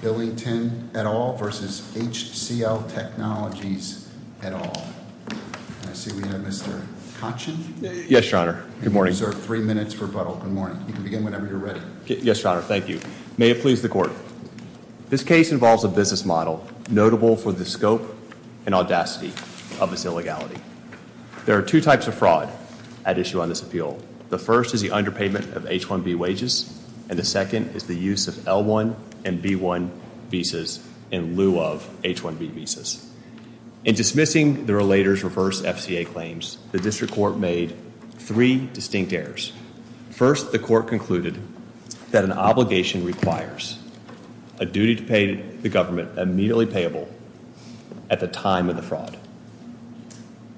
Billington et al versus HCL Technologies et al. And I see we have Mr. Kachin. Yes, your honor. Good morning. Sir, three minutes for rebuttal. Good morning. You can begin whenever you're ready. Yes, your honor. Thank you. May it please the court. This case involves a business model notable for the scope and audacity of this illegality. There are two types of fraud at issue on this appeal. The first is the underpayment of H-1B wages. And the second is the use of L-1 and B-1 visas in lieu of H-1B visas. In dismissing the relator's reverse FCA claims, the district court made three distinct errors. First, the court concluded that an obligation requires a duty to pay the government immediately payable at the time of the fraud.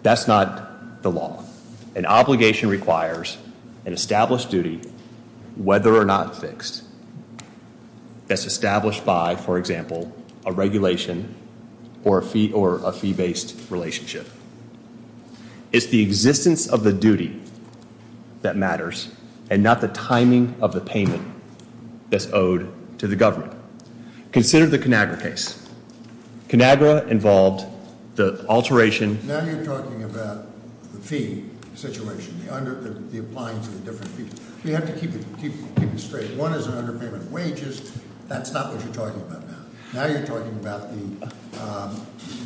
That's not the law. An obligation requires an established duty, whether or not fixed, that's established by, for example, a regulation or a fee-based relationship. It's the existence of the duty that matters and not the timing of the payment that's owed to the government. Consider the Conagra case. Conagra involved the alteration. Now you're talking about the fee situation, the applying to the different fees. You have to keep it straight. One is an underpayment of wages. That's not what you're talking about now. Now you're talking about the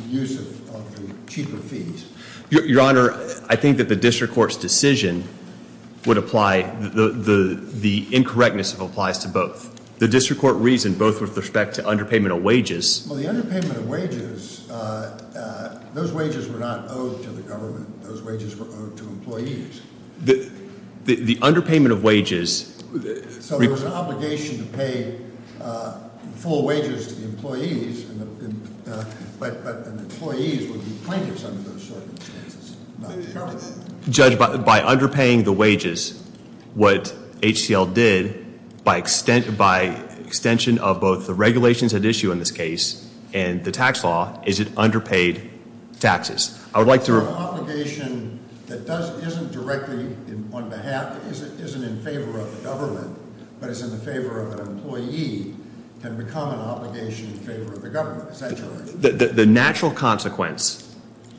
use of the cheaper fees. Your Honor, I think that the district court's decision would apply, the incorrectness applies to both. The district court reasoned both with respect to underpayment of wages. Well, the underpayment of wages, those wages were not owed to the government. Those wages were owed to employees. The underpayment of wages- So there was an obligation to pay full wages to the employees, but the employees would be plaintiffs under those circumstances. Not the- Judge, by underpaying the wages, what HCL did, by extension of both the regulations at issue in this case and the tax law, is it underpaid taxes? I would like to- An obligation that isn't directly on behalf, isn't in favor of the government, but is in the favor of an employee can become an obligation in favor of the government, essentially. The natural consequence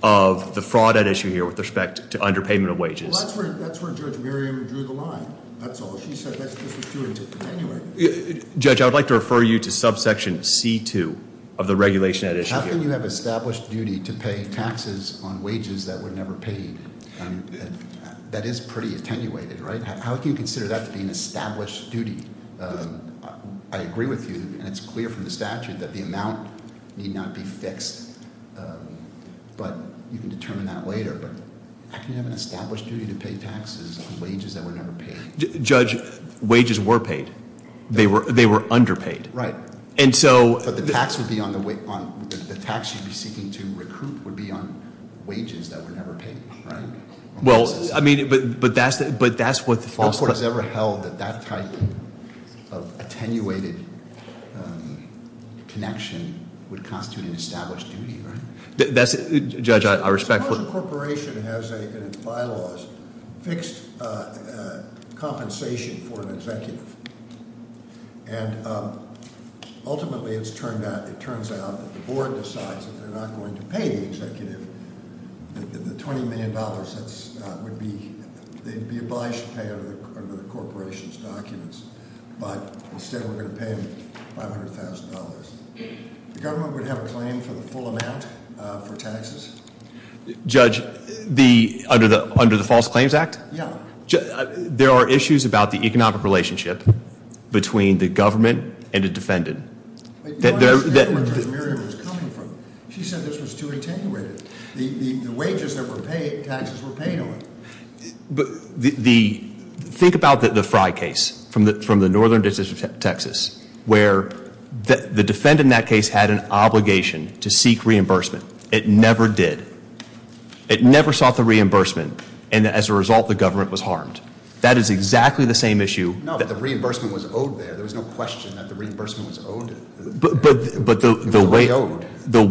of the fraud at issue here with respect to underpayment of wages. Well, that's where Judge Miriam drew the line, that's all. She said that's what this was doing to attenuate. Judge, I would like to refer you to subsection C2 of the regulation at issue here. How can you have established duty to pay taxes on wages that were never paid? That is pretty attenuated, right? How can you consider that to be an established duty? I agree with you, and it's clear from the statute that the amount may not be fixed, but you can determine that later. But how can you have an established duty to pay taxes on wages that were never paid? Judge, wages were paid. They were underpaid. Right. And so- But the tax you'd be seeking to recruit would be on wages that were never paid, right? Well, I mean, but that's what the- No court has ever held that that type of attenuated connection would constitute an established duty, right? That's, Judge, I respect- Suppose a corporation has in its bylaws fixed compensation for an executive. And ultimately, it turns out that the board decides that they're not going to pay the executive. The $20 million, that would be, they'd be obliged to pay under the corporation's documents. But instead, we're going to pay them $500,000. The government would have a claim for the full amount for taxes? Judge, under the False Claims Act? Yeah. There are issues about the economic relationship between the government and a defendant. Wait, you want to say where the $20 million was coming from? She said this was too attenuated. The wages that were paid, taxes were paid on it. Think about the Frye case from the northern district of Texas, where the defendant in that case had an obligation to seek reimbursement. It never did. It never sought the reimbursement. And as a result, the government was harmed. That is exactly the same issue. No, but the reimbursement was owed there. There was no question that the reimbursement was owed. But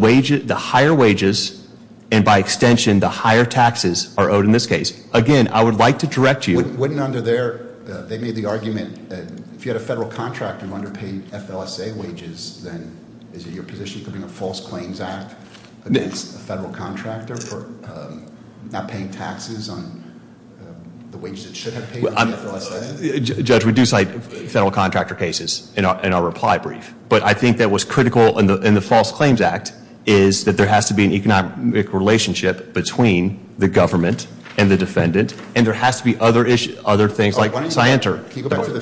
the higher wages, and by extension, the higher taxes are owed in this case. Again, I would like to direct you- Wouldn't under there, they made the argument that if you had a federal contractor underpaying FLSA wages, then is it your position to bring a False Claims Act against a federal contractor for not paying taxes on the wages it should have paid under the FLSA? Judge, we do cite federal contractor cases in our reply brief. But I think that what's critical in the False Claims Act is that there has to be an economic relationship between the government and the defendant. And there has to be other things like, yes, I enter. Can you go back to the-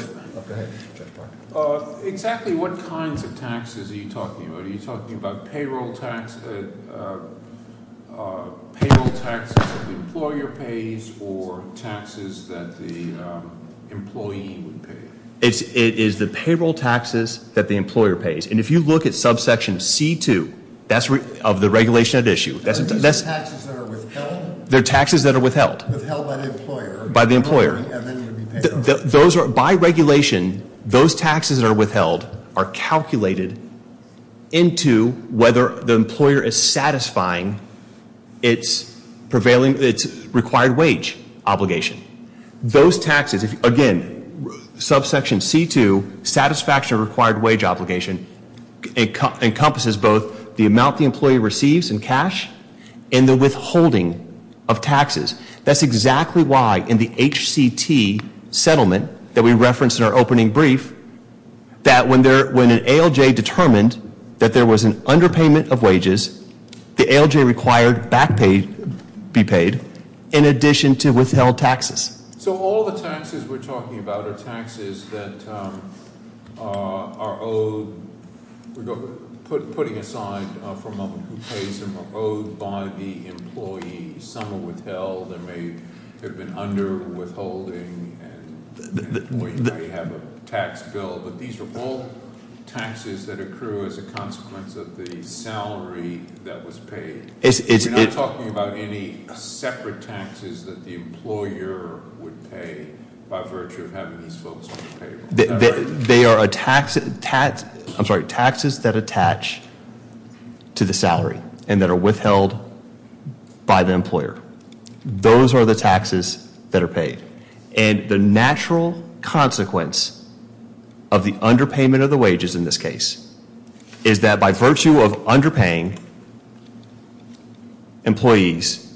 Go ahead, Judge Parker. Exactly what kinds of taxes are you talking about? Are you talking about payroll taxes that the employer pays or taxes that the employee would pay? It is the payroll taxes that the employer pays. And if you look at subsection C2, that's of the regulation at issue. That's- Are these taxes that are withheld? They're taxes that are withheld. Withheld by the employer. By the employer. And then you would be paid on it. By regulation, those taxes that are withheld are calculated into whether the employer is satisfying its required wage obligation. Those taxes, again, subsection C2, satisfaction of required wage obligation, encompasses both the amount the employee receives in cash and the withholding of taxes. That's exactly why in the HCT settlement that we referenced in our opening brief, that when an ALJ determined that there was an underpayment of wages, the ALJ required back pay, be paid, in addition to withheld taxes. So all the taxes we're talking about are taxes that are owed, we're putting aside for a moment, who pays them, are owed by the employee. Some are withheld, there may have been underwithholding, and we may have a tax bill, but these are all taxes that accrue as a consequence of the salary that was paid. We're not talking about any separate taxes that the employer would pay by virtue of having these folks on the payroll. They are taxes that attach to the salary and that are withheld by the employer. Those are the taxes that are paid. And the natural consequence of the underpayment of the wages in this case, is that by virtue of underpaying employees,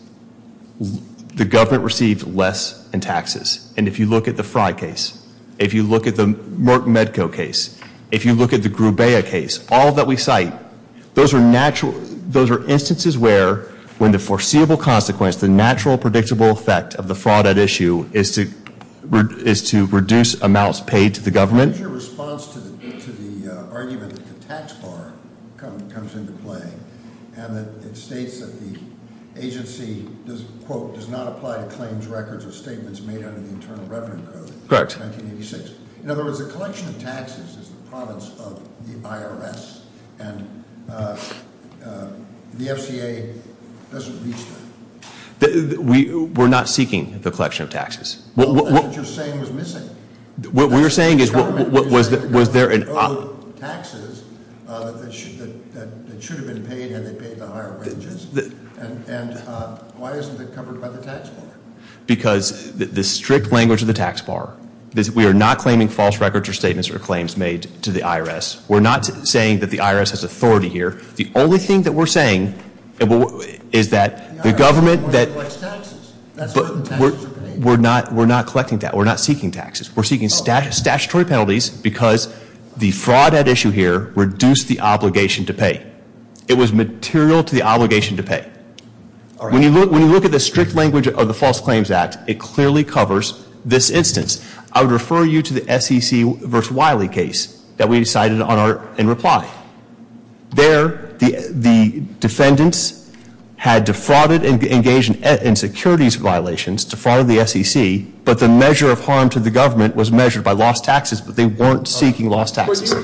the government received less in taxes. And if you look at the Frye case, if you look at the Merck-Medco case, if you look at the Grubea case, all that we cite, those are instances where, when the foreseeable consequence, the natural predictable effect of the fraud at issue is to reduce amounts paid to the government. Your response to the argument that the tax bar comes into play, and that it states that the agency does, quote, does not apply to claims, records, or statements made under the Internal Revenue Code. Correct. 1986. In other words, the collection of taxes is the province of the IRS. And the FCA doesn't reach that. We're not seeking the collection of taxes. What you're saying is missing. What we're saying is, was there an- Taxes that should have been paid, and they paid the higher wages. And why isn't it covered by the tax bar? Because the strict language of the tax bar, we are not claiming false records or statements or claims made to the IRS. We're not saying that the IRS has authority here. The only thing that we're saying is that the government that- The IRS collects taxes. That's where the taxes are paid. We're not collecting that. We're not seeking taxes. We're seeking statutory penalties because the fraud at issue here reduced the obligation to pay. It was material to the obligation to pay. When you look at the strict language of the False Claims Act, it clearly covers this instance. I would refer you to the SEC versus Wiley case that we decided in reply. There, the defendants had defrauded and engaged in securities violations, defrauded the SEC. But the measure of harm to the government was measured by lost taxes, but they weren't seeking lost taxes. The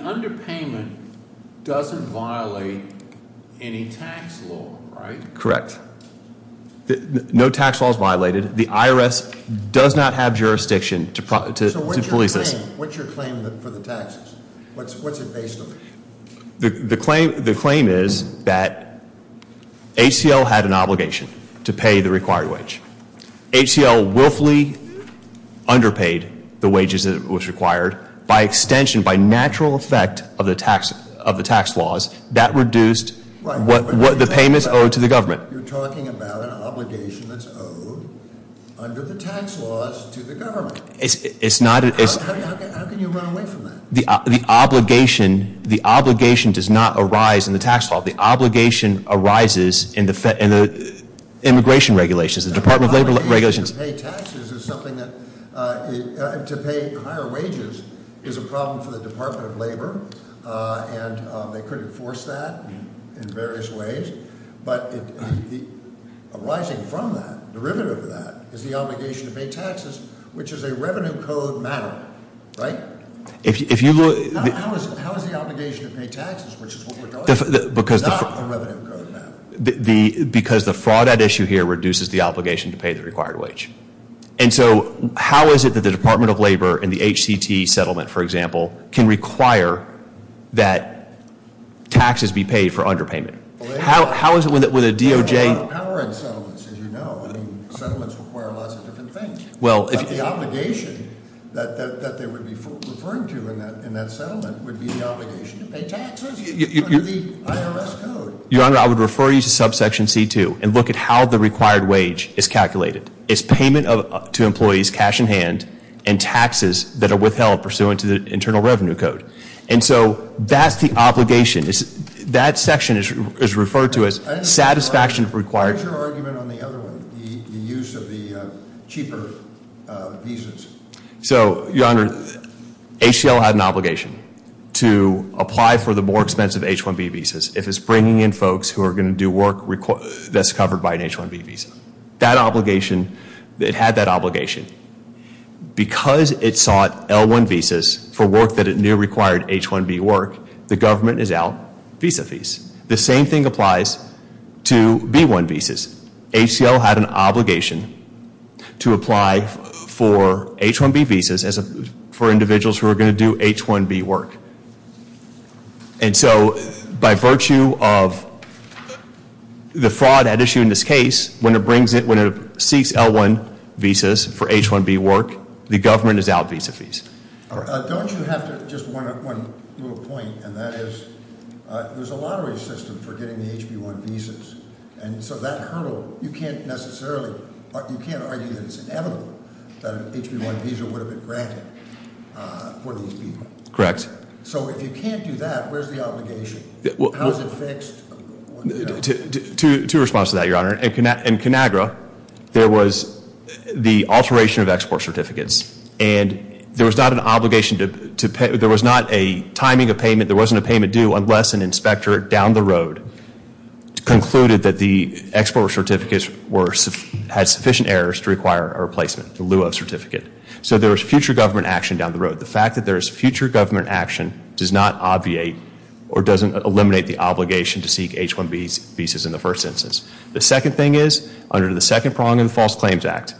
underpayment doesn't violate any tax law, right? Correct. No tax law is violated. The IRS does not have jurisdiction to police this. What's your claim for the taxes? What's it based on? The claim is that HCL had an obligation to pay the required wage. HCL willfully underpaid the wages that was required by extension, by natural effect of the tax laws that reduced what the payments owed to the government. You're talking about an obligation that's owed under the tax laws to the government. How can you run away from that? The obligation does not arise in the tax law. The obligation arises in the immigration regulations, the Department of Labor regulations. To pay taxes is something that, to pay higher wages is a problem for the Department of Labor, and they could enforce that in various ways. But arising from that, derivative of that, is the obligation to pay taxes, which is a revenue code matter, right? How is the obligation to pay taxes, which is what we're talking about, not the revenue code matter? Because the fraud at issue here reduces the obligation to pay the required wage. And so how is it that the Department of Labor and the HCT settlement, for example, can require that taxes be paid for underpayment? How is it with a DOJ- Power and settlements, as you know, I mean, settlements require lots of different things. But the obligation that they would be referring to in that settlement would be the obligation to pay taxes under the IRS code. Your Honor, I would refer you to subsection C2 and look at how the required wage is calculated. It's payment to employees, cash in hand, and taxes that are withheld pursuant to the Internal Revenue Code. And so that's the obligation. That section is referred to as satisfaction required. What's your argument on the other one, the use of the cheaper visas? So, Your Honor, HCL had an obligation to apply for the more expensive H1B visas if it's bringing in folks who are going to do work that's covered by an H1B visa. That obligation, it had that obligation. Because it sought L1 visas for work that it knew required H1B work, the government is out visa fees. The same thing applies to B1 visas. HCL had an obligation to apply for H1B visas for individuals who are going to do H1B work. And so by virtue of the fraud at issue in this case, when it seeks L1 visas for H1B work, the government is out visa fees. Don't you have to, just one little point, and that is, there's a lottery system for getting the HB1 visas. And so that hurdle, you can't necessarily, you can't argue that it's inevitable that an HB1 visa would have been granted for these people. Correct. So if you can't do that, where's the obligation? How is it fixed? To respond to that, your honor, in Conagra, there was the alteration of export certificates. And there was not an obligation to pay, there was not a timing of payment, there wasn't a payment due unless an inspector down the road concluded that the export certificates had sufficient errors to require a replacement, the lieu of certificate. But the fact that there is future government action does not obviate or doesn't eliminate the obligation to seek H1B visas in the first instance. The second thing is, under the second prong of the False Claims Act,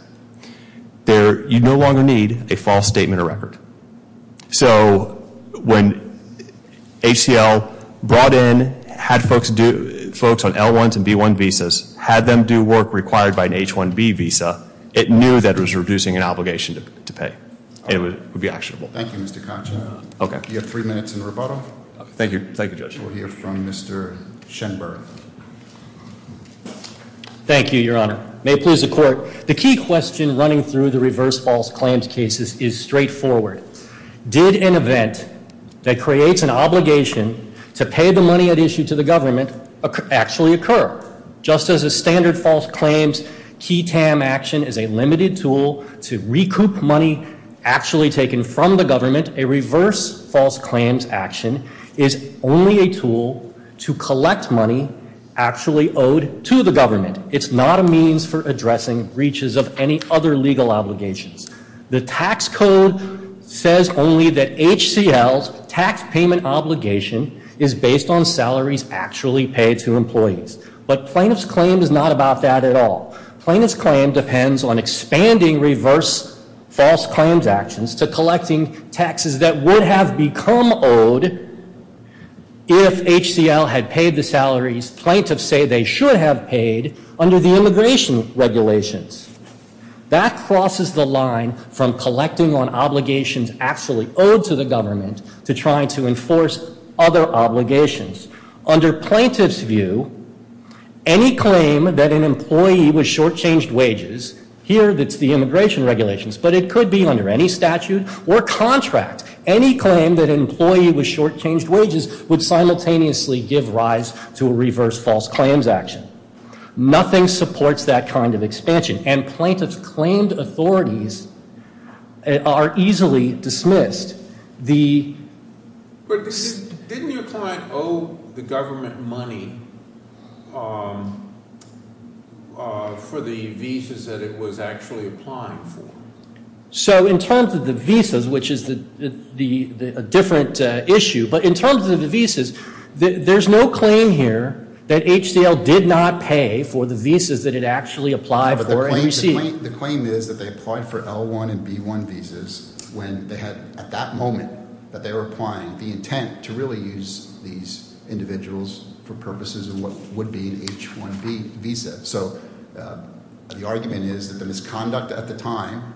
you no longer need a false statement of record. So when HCL brought in, had folks on L1s and B1 visas, had them do work required by an H1B visa, it knew that it was reducing an obligation to pay. It would be actionable. Thank you, Mr. Koch. Okay. You have three minutes in rebuttal. Thank you, thank you, Judge. We'll hear from Mr. Shenberg. Thank you, your honor. May it please the court. The key question running through the reverse false claims cases is straightforward. Did an event that creates an obligation to pay the money at issue to the government actually occur? Just as a standard false claims key TAM action is a limited tool to recoup money actually taken from the government. A reverse false claims action is only a tool to collect money actually owed to the government. It's not a means for addressing breaches of any other legal obligations. The tax code says only that HCL's tax payment obligation is based on salaries actually paid to employees. But plaintiff's claim is not about that at all. Plaintiff's claim depends on expanding reverse false claims actions to collecting taxes that would have become owed if HCL had paid the salaries plaintiffs say they should have paid under the immigration regulations. That crosses the line from collecting on obligations actually owed to the government to trying to enforce other obligations. Under plaintiff's view, any claim that an employee was short changed wages, here that's the immigration regulations, but it could be under any statute or contract. Any claim that an employee was short changed wages would simultaneously give rise to a reverse false claims action. Nothing supports that kind of expansion. And plaintiff's claimed authorities are easily dismissed. But didn't your client owe the government money for the visas that it was actually applying for? So in terms of the visas, which is a different issue. But in terms of the visas, there's no claim here that HCL did not pay for the visas that it actually applied for and received. The claim is that they applied for L1 and B1 visas when they had, at that moment, that they were applying, the intent to really use these individuals for purposes of what would be an H1B visa. So the argument is that the misconduct at the time,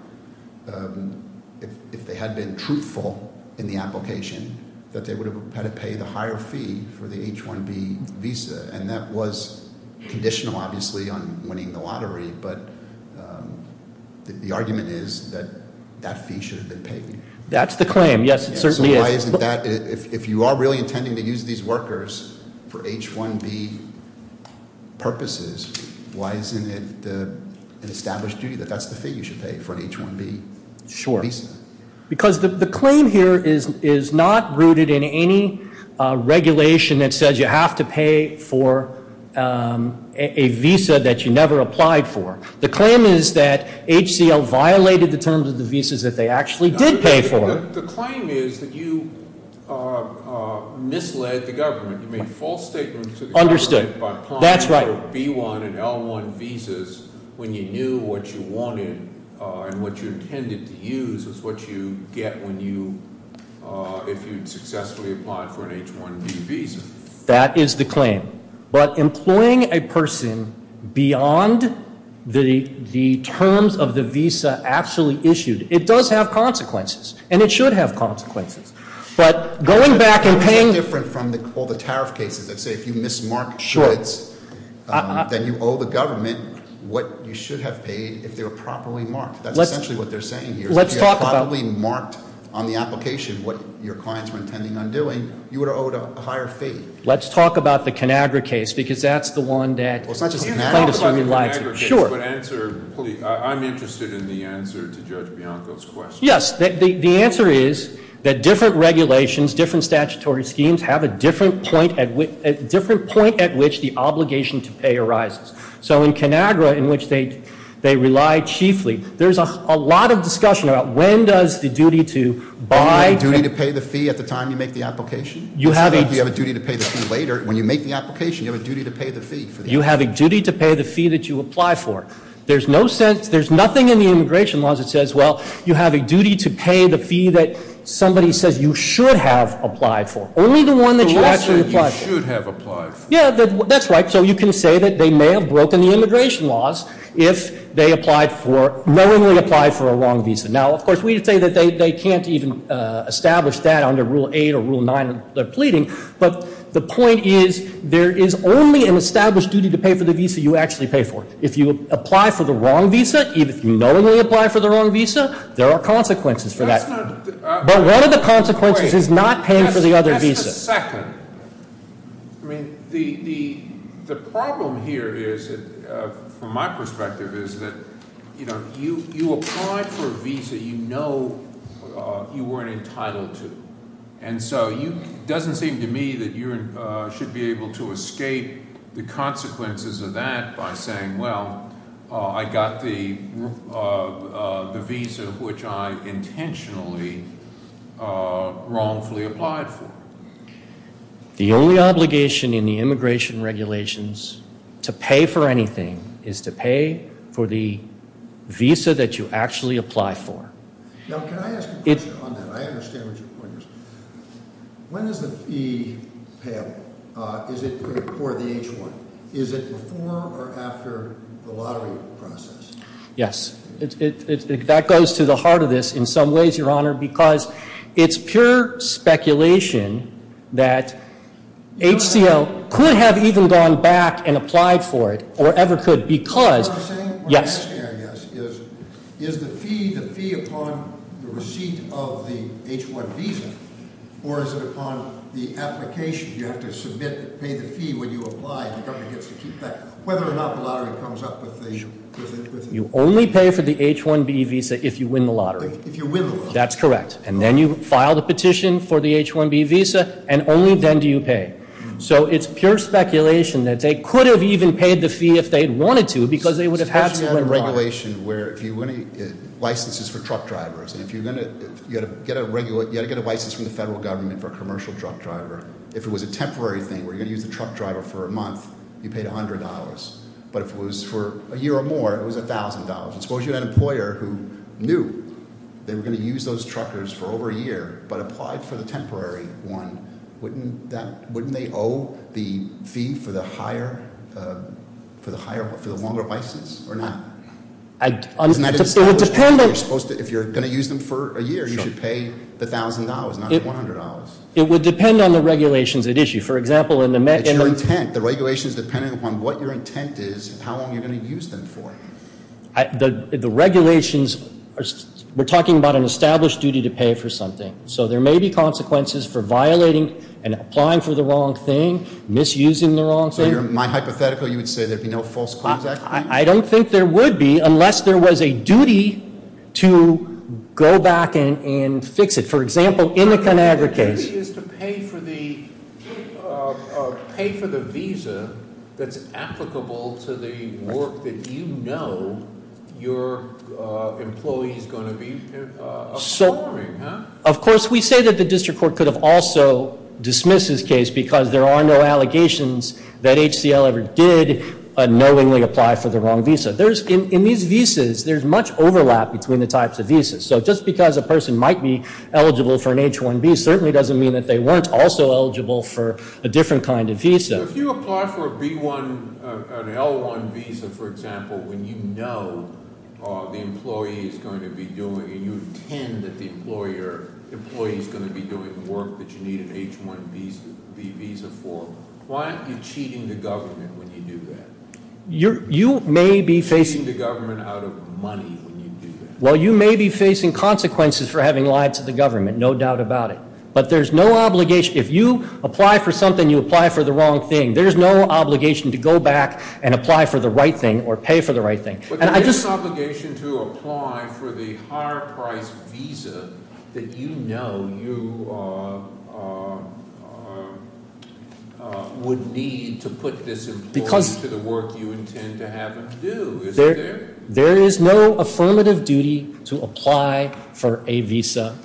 if they had been truthful in the application, that they would have had to pay the higher fee for the H1B visa. And that was conditional, obviously, on winning the lottery, but the argument is that that fee should have been paid. That's the claim. Yes, it certainly is. So why isn't that, if you are really intending to use these workers for H1B purposes, why isn't it an established duty that that's the fee you should pay for an H1B visa? Because the claim here is not rooted in any regulation that says you have to pay for a visa that you never applied for. The claim is that HCL violated the terms of the visas that they actually did pay for. The claim is that you misled the government. You made false statements to the government. Understood. By applying for B1 and L1 visas when you knew what you wanted and what you intended to use is what you get when you, if you'd successfully applied for an H1B visa. That is the claim. But employing a person beyond the terms of the visa actually issued, it does have consequences, and it should have consequences. But going back and paying- It's different from all the tariff cases that say if you mismark shoulds, then you owe the government what you should have paid if they were properly marked. That's essentially what they're saying here. If you had properly marked on the application what your clients were intending on doing, you would have owed a higher fee. Let's talk about the Conagra case, because that's the one that- Well, it's not just the Conagra case, but answer, I'm interested in the answer to Judge Bianco's question. Yes, the answer is that different regulations, different statutory schemes, have a different point at which the obligation to pay arises. So in Conagra, in which they rely chiefly, there's a lot of discussion about when does the duty to buy- Do you have a duty to pay the fee at the time you make the application? You have a- Do you have a duty to pay the fee later? When you make the application, you have a duty to pay the fee for the application. You have a duty to pay the fee that you apply for. There's no sense, there's nothing in the immigration laws that says, well, you have a duty to pay the fee that somebody says you should have applied for. Only the one that you actually applied for. You should have applied for. Yeah, that's right. And so you can say that they may have broken the immigration laws if they applied for, knowingly applied for a wrong visa. Now, of course, we can say that they can't even establish that under Rule 8 or Rule 9 that they're pleading. But the point is, there is only an established duty to pay for the visa you actually pay for. If you apply for the wrong visa, even if you knowingly apply for the wrong visa, there are consequences for that. That's not- But one of the consequences is not paying for the other visa. Wait, just a second. I mean, the problem here is, from my perspective, is that you apply for a visa you know you weren't entitled to. And so it doesn't seem to me that you should be able to escape the consequences of that by saying, well, I got the visa which I intentionally wrongfully applied for. The only obligation in the immigration regulations to pay for anything is to pay for the visa that you actually apply for. Now, can I ask a question on that? I understand what your point is. When is the fee payable? Is it before the H-1? Is it before or after the lottery process? Yes, that goes to the heart of this in some ways, Your Honor, because it's pure speculation that HCO could have even gone back and applied for it, or ever could, because- What I'm saying, what I'm saying is, is the fee upon the receipt of the H-1 visa, or is it upon the application, you have to submit, pay the fee when you apply, and the government gets to keep that. Whether or not the lottery comes up with the- You only pay for the H-1B visa if you win the lottery. If you win the lottery. That's correct. And then you file the petition for the H-1B visa, and only then do you pay. So it's pure speculation that they could have even paid the fee if they wanted to, because they would have had to win the lottery. Especially under regulation where if you win licenses for truck drivers, and if you're going to get a license from the federal government for a commercial truck driver. If it was a temporary thing, where you're going to use the truck driver for a month, you paid $100. But if it was for a year or more, it was $1,000. Suppose you had an employer who knew they were going to use those truckers for over a year, but applied for the temporary one. Wouldn't they owe the fee for the longer license or not? If you're going to use them for a year, you should pay the $1,000, not the $100. It would depend on the regulations at issue. For example, in the- It's your intent. The regulation is dependent upon what your intent is and how long you're going to use them for. The regulations, we're talking about an established duty to pay for something. So there may be consequences for violating and applying for the wrong thing, misusing the wrong thing. So my hypothetical, you would say there'd be no false claims act? I don't think there would be, unless there was a duty to go back and fix it. For example, in the ConAgra case. The duty is to pay for the visa that's applicable to the work that you know your employee's going to be performing. Of course, we say that the district court could have also dismissed this case because there are no allegations that HCL ever did unknowingly apply for the wrong visa. In these visas, there's much overlap between the types of visas. So just because a person might be eligible for an H-1B certainly doesn't mean that they weren't also eligible for a different kind of visa. If you apply for an L-1 visa, for example, when you know the employee is going to be doing, and you intend that the employee is going to be doing work that you need an H-1B visa for. Why aren't you cheating the government when you do that? You may be facing- Cheating the government out of money when you do that. Well, you may be facing consequences for having lied to the government, no doubt about it. But there's no obligation, if you apply for something, you apply for the wrong thing. There's no obligation to go back and apply for the right thing or pay for the right thing. And I just- But there's obligation to apply for the higher priced visa that you know you would need to put this employee to the work you intend to have him do, isn't there? There is no affirmative duty to apply for a visa,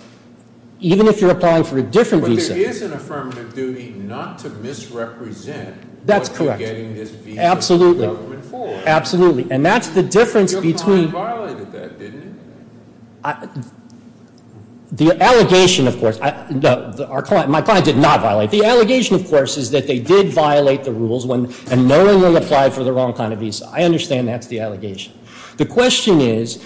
even if you're applying for a different visa. But there is an affirmative duty not to misrepresent what you're getting this visa from the government for. Absolutely, and that's the difference between- Your client violated that, didn't it? The allegation, of course, my client did not violate. The allegation, of course, is that they did violate the rules and knowingly applied for the wrong kind of visa. I understand that's the allegation. The question is,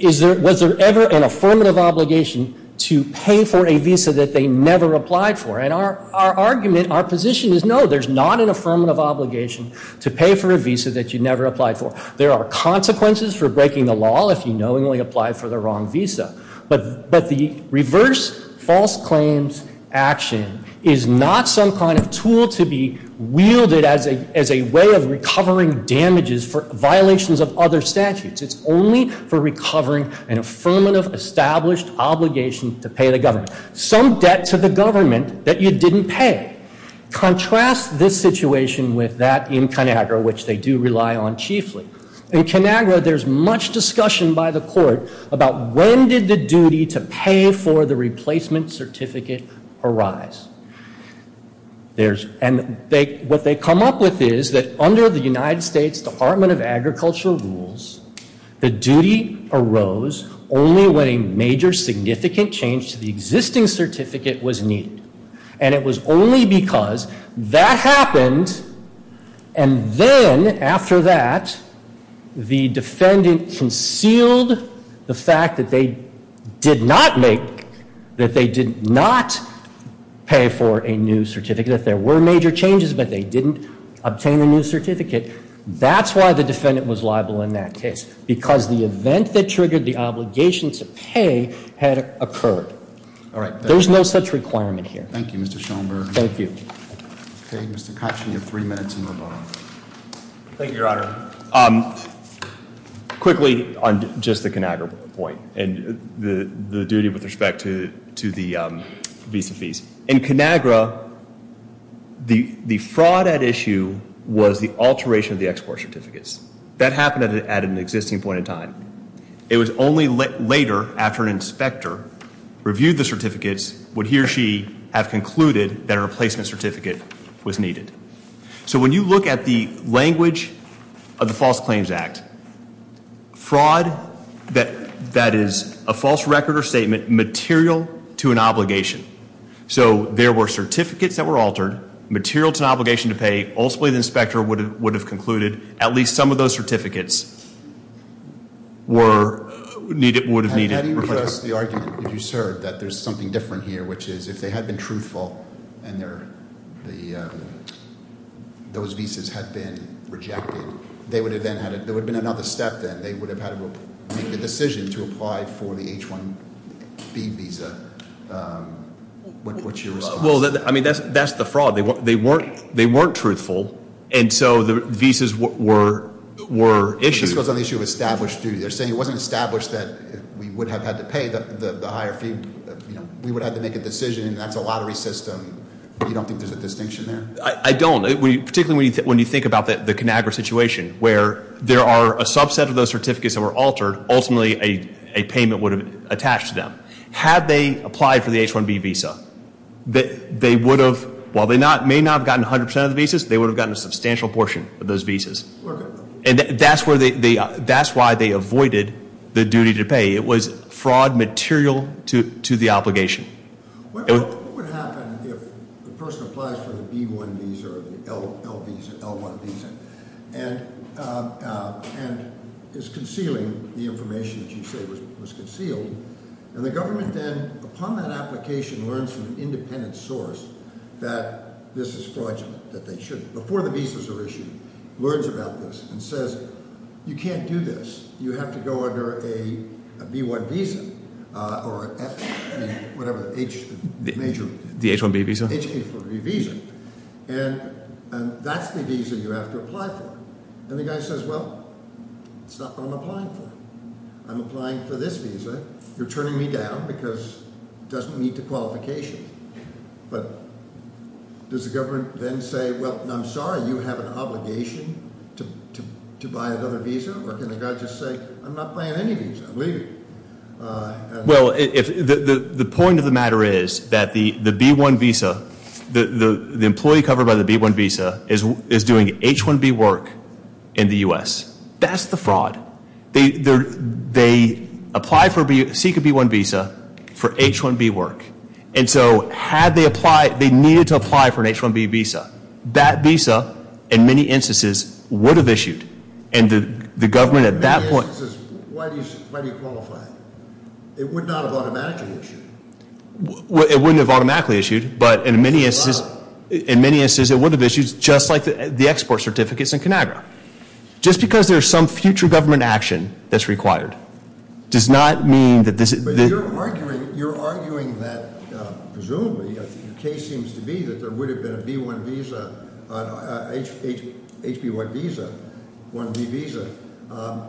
was there ever an affirmative obligation to pay for a visa that they never applied for? And our argument, our position is no, there's not an affirmative obligation to pay for a visa that you never applied for. There are consequences for breaking the law if you knowingly apply for the wrong visa. But the reverse false claims action is not some kind of tool to be wielded as a way of recovering damages for violations of other statutes. It's only for recovering an affirmative established obligation to pay the government. Some debt to the government that you didn't pay. Contrast this situation with that in Conagra, which they do rely on chiefly. In Conagra, there's much discussion by the court about when did the duty to pay for the replacement certificate arise? And what they come up with is that under the United States Department of Agriculture rules, the duty arose only when a major significant change to the existing certificate was needed. And it was only because that happened and then after that, the defendant concealed the fact that they did not make, that they did not pay for a new certificate. That there were major changes, but they didn't obtain a new certificate. That's why the defendant was liable in that case, because the event that triggered the obligation to pay had occurred. All right. There's no such requirement here. Thank you, Mr. Schomburg. Thank you. Okay, Mr. Koch, you have three minutes to move on. Thank you, Your Honor. Quickly on just the Conagra point and the duty with respect to the visa fees. In Conagra, the fraud at issue was the alteration of the export certificates. That happened at an existing point in time. It was only later, after an inspector reviewed the certificates, would he or she have concluded that a replacement certificate was needed. So when you look at the language of the False Claims Act, fraud that is a false record or statement material to an obligation. So there were certificates that were altered, material to an obligation to pay. Ultimately, the inspector would have concluded at least some of those certificates were needed, would have needed replacement. How do you address the argument that you served, that there's something different here, which is if they had been truthful and those visas had been rejected, there would have been another step then. They would have had to make a decision to apply for the H-1B visa. What's your response? Well, I mean, that's the fraud. They weren't truthful, and so the visas were issued. This was on the issue of established duty. They're saying it wasn't established that we would have had to pay the higher fee. We would have to make a decision, and that's a lottery system. You don't think there's a distinction there? I don't. Particularly when you think about the Conagra situation, where there are a subset of those certificates that were altered. Ultimately, a payment would have attached to them. Had they applied for the H-1B visa, they would have, while they may not have gotten 100% of the visas, they would have gotten a substantial portion of those visas. And that's why they avoided the duty to pay. It was fraud material to the obligation. What would happen if the person applies for the B-1 visa or the L-1 visa, and is concealing the information that you say was concealed. And the government then, upon that application, learns from an independent source that this is fraudulent, that they shouldn't. Before the visas are issued, learns about this and says, you can't do this. You have to go under a B-1 visa, or whatever, the H major. The H-1B visa? The H-1B visa, and that's the visa you have to apply for. And the guy says, well, it's not what I'm applying for. I'm applying for this visa. You're turning me down because it doesn't meet the qualifications. But does the government then say, well, I'm sorry, you have an obligation to buy another visa? Or can the guy just say, I'm not buying any visa, I'm leaving? Well, the point of the matter is that the B-1 visa, the employee covered by the B-1 visa is doing H-1B work in the US. That's the fraud. They apply for, seek a B-1 visa for H-1B work. And so, had they applied, they needed to apply for an H-1B visa. That visa, in many instances, would have issued. And the government at that point- In many instances, why do you qualify? It would not have automatically issued. It wouldn't have automatically issued, but in many instances it would have issued, just like the export certificates in Conagra. Just because there's some future government action that's required does not mean that this- But you're arguing that, presumably, the case seems to be that there would have been a B-1 visa, an HB-1 visa, 1B visa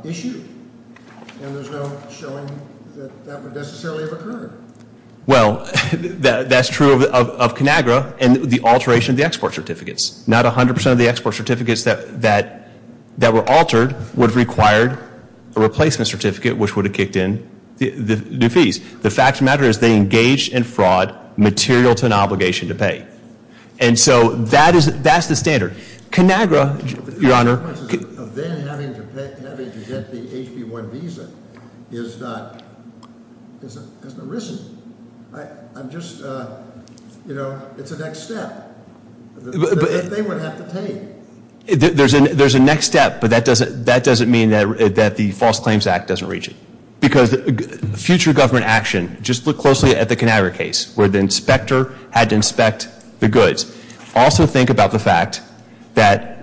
issued. And there's no showing that that would necessarily have occurred. Well, that's true of Conagra and the alteration of the export certificates. Not 100% of the export certificates that were altered would have required a replacement certificate, which would have kicked in. The fees. The fact of the matter is, they engaged in fraud, material to an obligation to pay. And so, that's the standard. Conagra, your honor- The consequences of them having to get the HB-1 visa is not, it hasn't arisen, I'm just, it's a next step that they would have to take. There's a next step, but that doesn't mean that the False Claims Act doesn't reach it. Because future government action, just look closely at the Conagra case, where the inspector had to inspect the goods. Also think about the fact that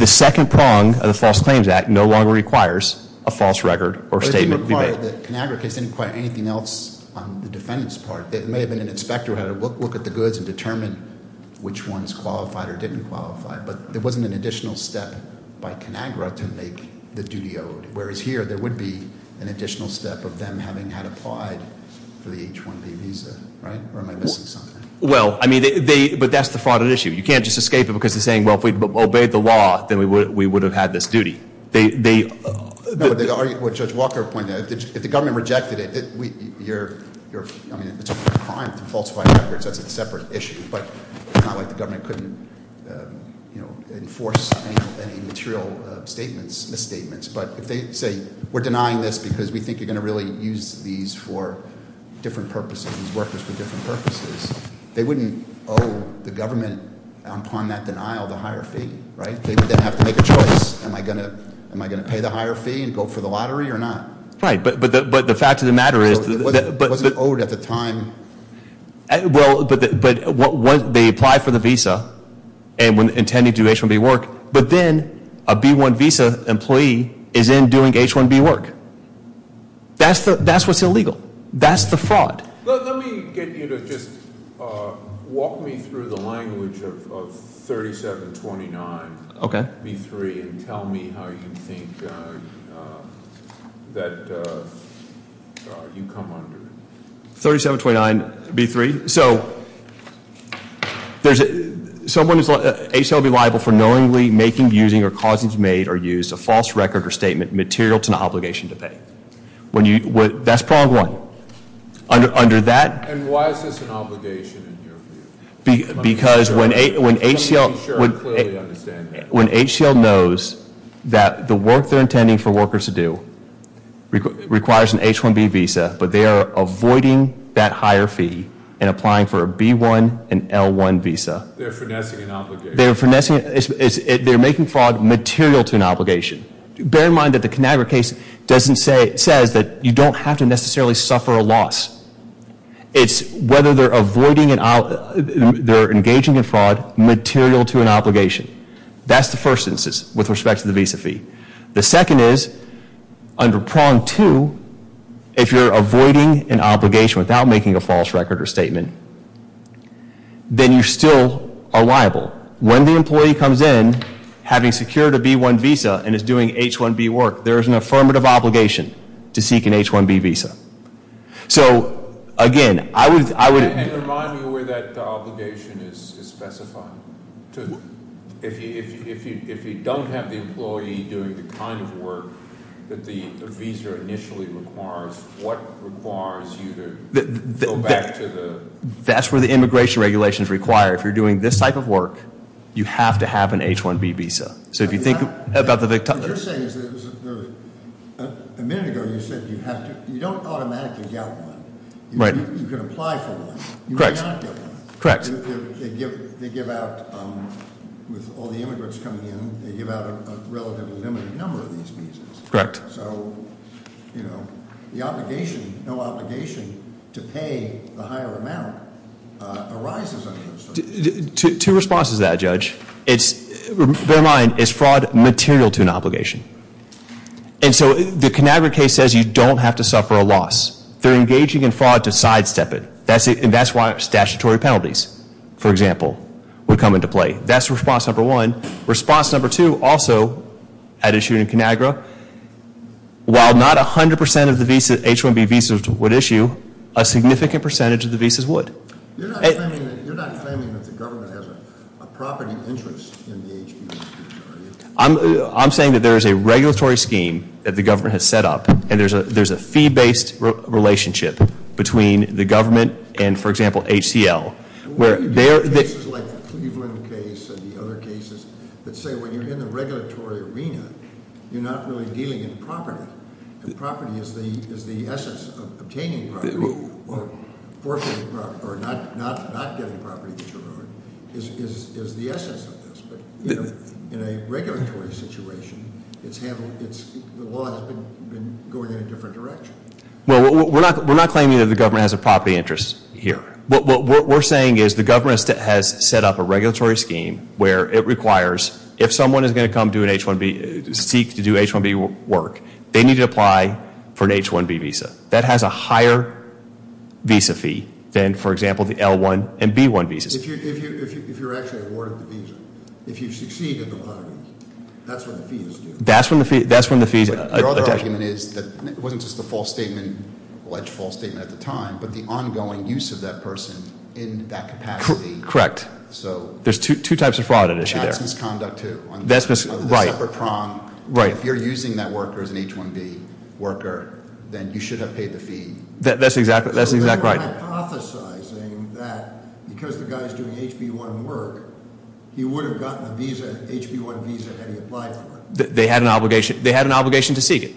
the second prong of the False Claims Act no longer requires a false record or statement to be made. The Conagra case didn't require anything else on the defendant's part. It may have been an inspector who had to look at the goods and determine which ones qualified or didn't qualify. But there wasn't an additional step by Conagra to make the duty owed. Whereas here, there would be an additional step of them having had applied for the H-1B visa, right? Or am I missing something? Well, I mean, but that's the fraud issue. You can't just escape it because they're saying, well, if we'd obeyed the law, then we would have had this duty. They- No, what Judge Walker pointed out, if the government rejected it, it's a crime to falsify records, that's a separate issue. But it's not like the government couldn't enforce any material misstatements. But if they say, we're denying this because we think you're going to really use these for different purposes, these workers for different purposes. They wouldn't owe the government, upon that denial, the higher fee, right? They would then have to make a choice. Am I going to pay the higher fee and go for the lottery or not? Right, but the fact of the matter is- It wasn't owed at the time. Well, but they applied for the visa, and intended to do H-1B work. But then, a B-1 visa employee is in doing H-1B work. That's what's illegal. That's the fraud. Let me get you to just walk me through the language of 3729. Okay. B3 and tell me how you think that you come under. 3729, B3, so there's someone who's H-1B liable for knowingly making, using, or causing to be made or used a false record or statement material to an obligation to pay. When you, that's prong one, under that- And why is this an obligation in your view? Because when HCL knows that the work they're intending for is avoiding that higher fee and applying for a B-1 and L-1 visa. They're finessing an obligation. They're finessing, they're making fraud material to an obligation. Bear in mind that the Conagra case doesn't say, it says that you don't have to necessarily suffer a loss. It's whether they're avoiding, they're engaging in fraud material to an obligation. That's the first instance with respect to the visa fee. The second is, under prong two, if you're avoiding an obligation without making a false record or statement, then you still are liable. When the employee comes in, having secured a B-1 visa and is doing H-1B work, there is an affirmative obligation to seek an H-1B visa. So, again, I would- And remind me where that obligation is specified, too. If you don't have the employee doing the kind of work that the visa initially requires, what requires you to go back to the- That's where the immigration regulations require. If you're doing this type of work, you have to have an H-1B visa. So if you think about the- What you're saying is that a minute ago you said you don't automatically get one. Right. You can apply for one. Correct. Correct. They give out, with all the immigrants coming in, they give out a relatively limited number of these visas. Correct. So, the obligation, no obligation to pay the higher amount arises under this. Two responses to that, Judge. It's, bear in mind, it's fraud material to an obligation. And so the Conagra case says you don't have to suffer a loss. They're engaging in fraud to sidestep it. And that's why statutory penalties, for example, would come into play. That's response number one. Response number two, also, had issued in Conagra. While not 100% of the H-1B visas would issue, a significant percentage of the visas would. You're not claiming that the government has a property interest in the H-1B visa, are you? I'm saying that there is a regulatory scheme that the government has set up. And there's a fee-based relationship between the government and, for example, HCL. Where there- This is like the Cleveland case and the other cases that say when you're in the regulatory arena, you're not really dealing in property. And property is the essence of obtaining property or not getting property that you're owing is the essence of this. In a regulatory situation, the law has been going in a different direction. Well, we're not claiming that the government has a property interest here. What we're saying is the government has set up a regulatory scheme where it requires, if someone is going to come do an H-1B, seek to do H-1B work, they need to apply for an H-1B visa. That has a higher visa fee than, for example, the L-1 and B-1 visas. If you're actually awarded the visa, if you succeed in the lottery, that's what the fees do. That's when the fees- Your other argument is that it wasn't just a false statement, alleged false statement at the time, but the ongoing use of that person in that capacity. Correct. So- There's two types of fraud at issue there. That's misconduct too. That's misconduct, right. On the separate prong. Right. If you're using that worker as an H-1B worker, then you should have paid the fee. That's exactly, that's exactly right. You're hypothesizing that because the guy's doing H-B-1 work, he would have gotten a visa, H-B-1 visa, had he applied for it. They had an obligation to seek it.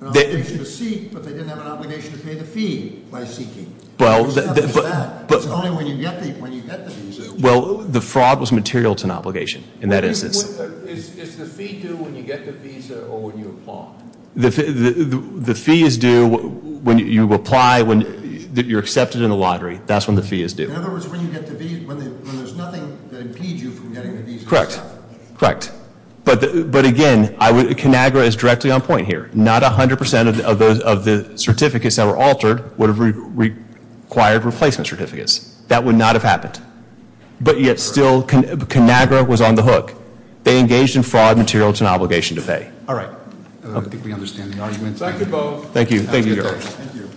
An obligation to seek, but they didn't have an obligation to pay the fee by seeking. Well, but- It's not just that. It's only when you get the visa. Well, the fraud was material to an obligation in that instance. Is the fee due when you get the visa or when you apply? The fee is due when you apply, when you're accepted in a lottery. That's when the fee is due. In other words, when you get the visa, when there's nothing that impedes you from getting the visa. Correct. But again, Conagra is directly on point here. Not 100% of the certificates that were altered would have required replacement certificates. That would not have happened. But yet still, Conagra was on the hook. They engaged in fraud material to an obligation to pay. All right, I think we understand the argument. Thank you both. Thank you. Thank you. Thank you.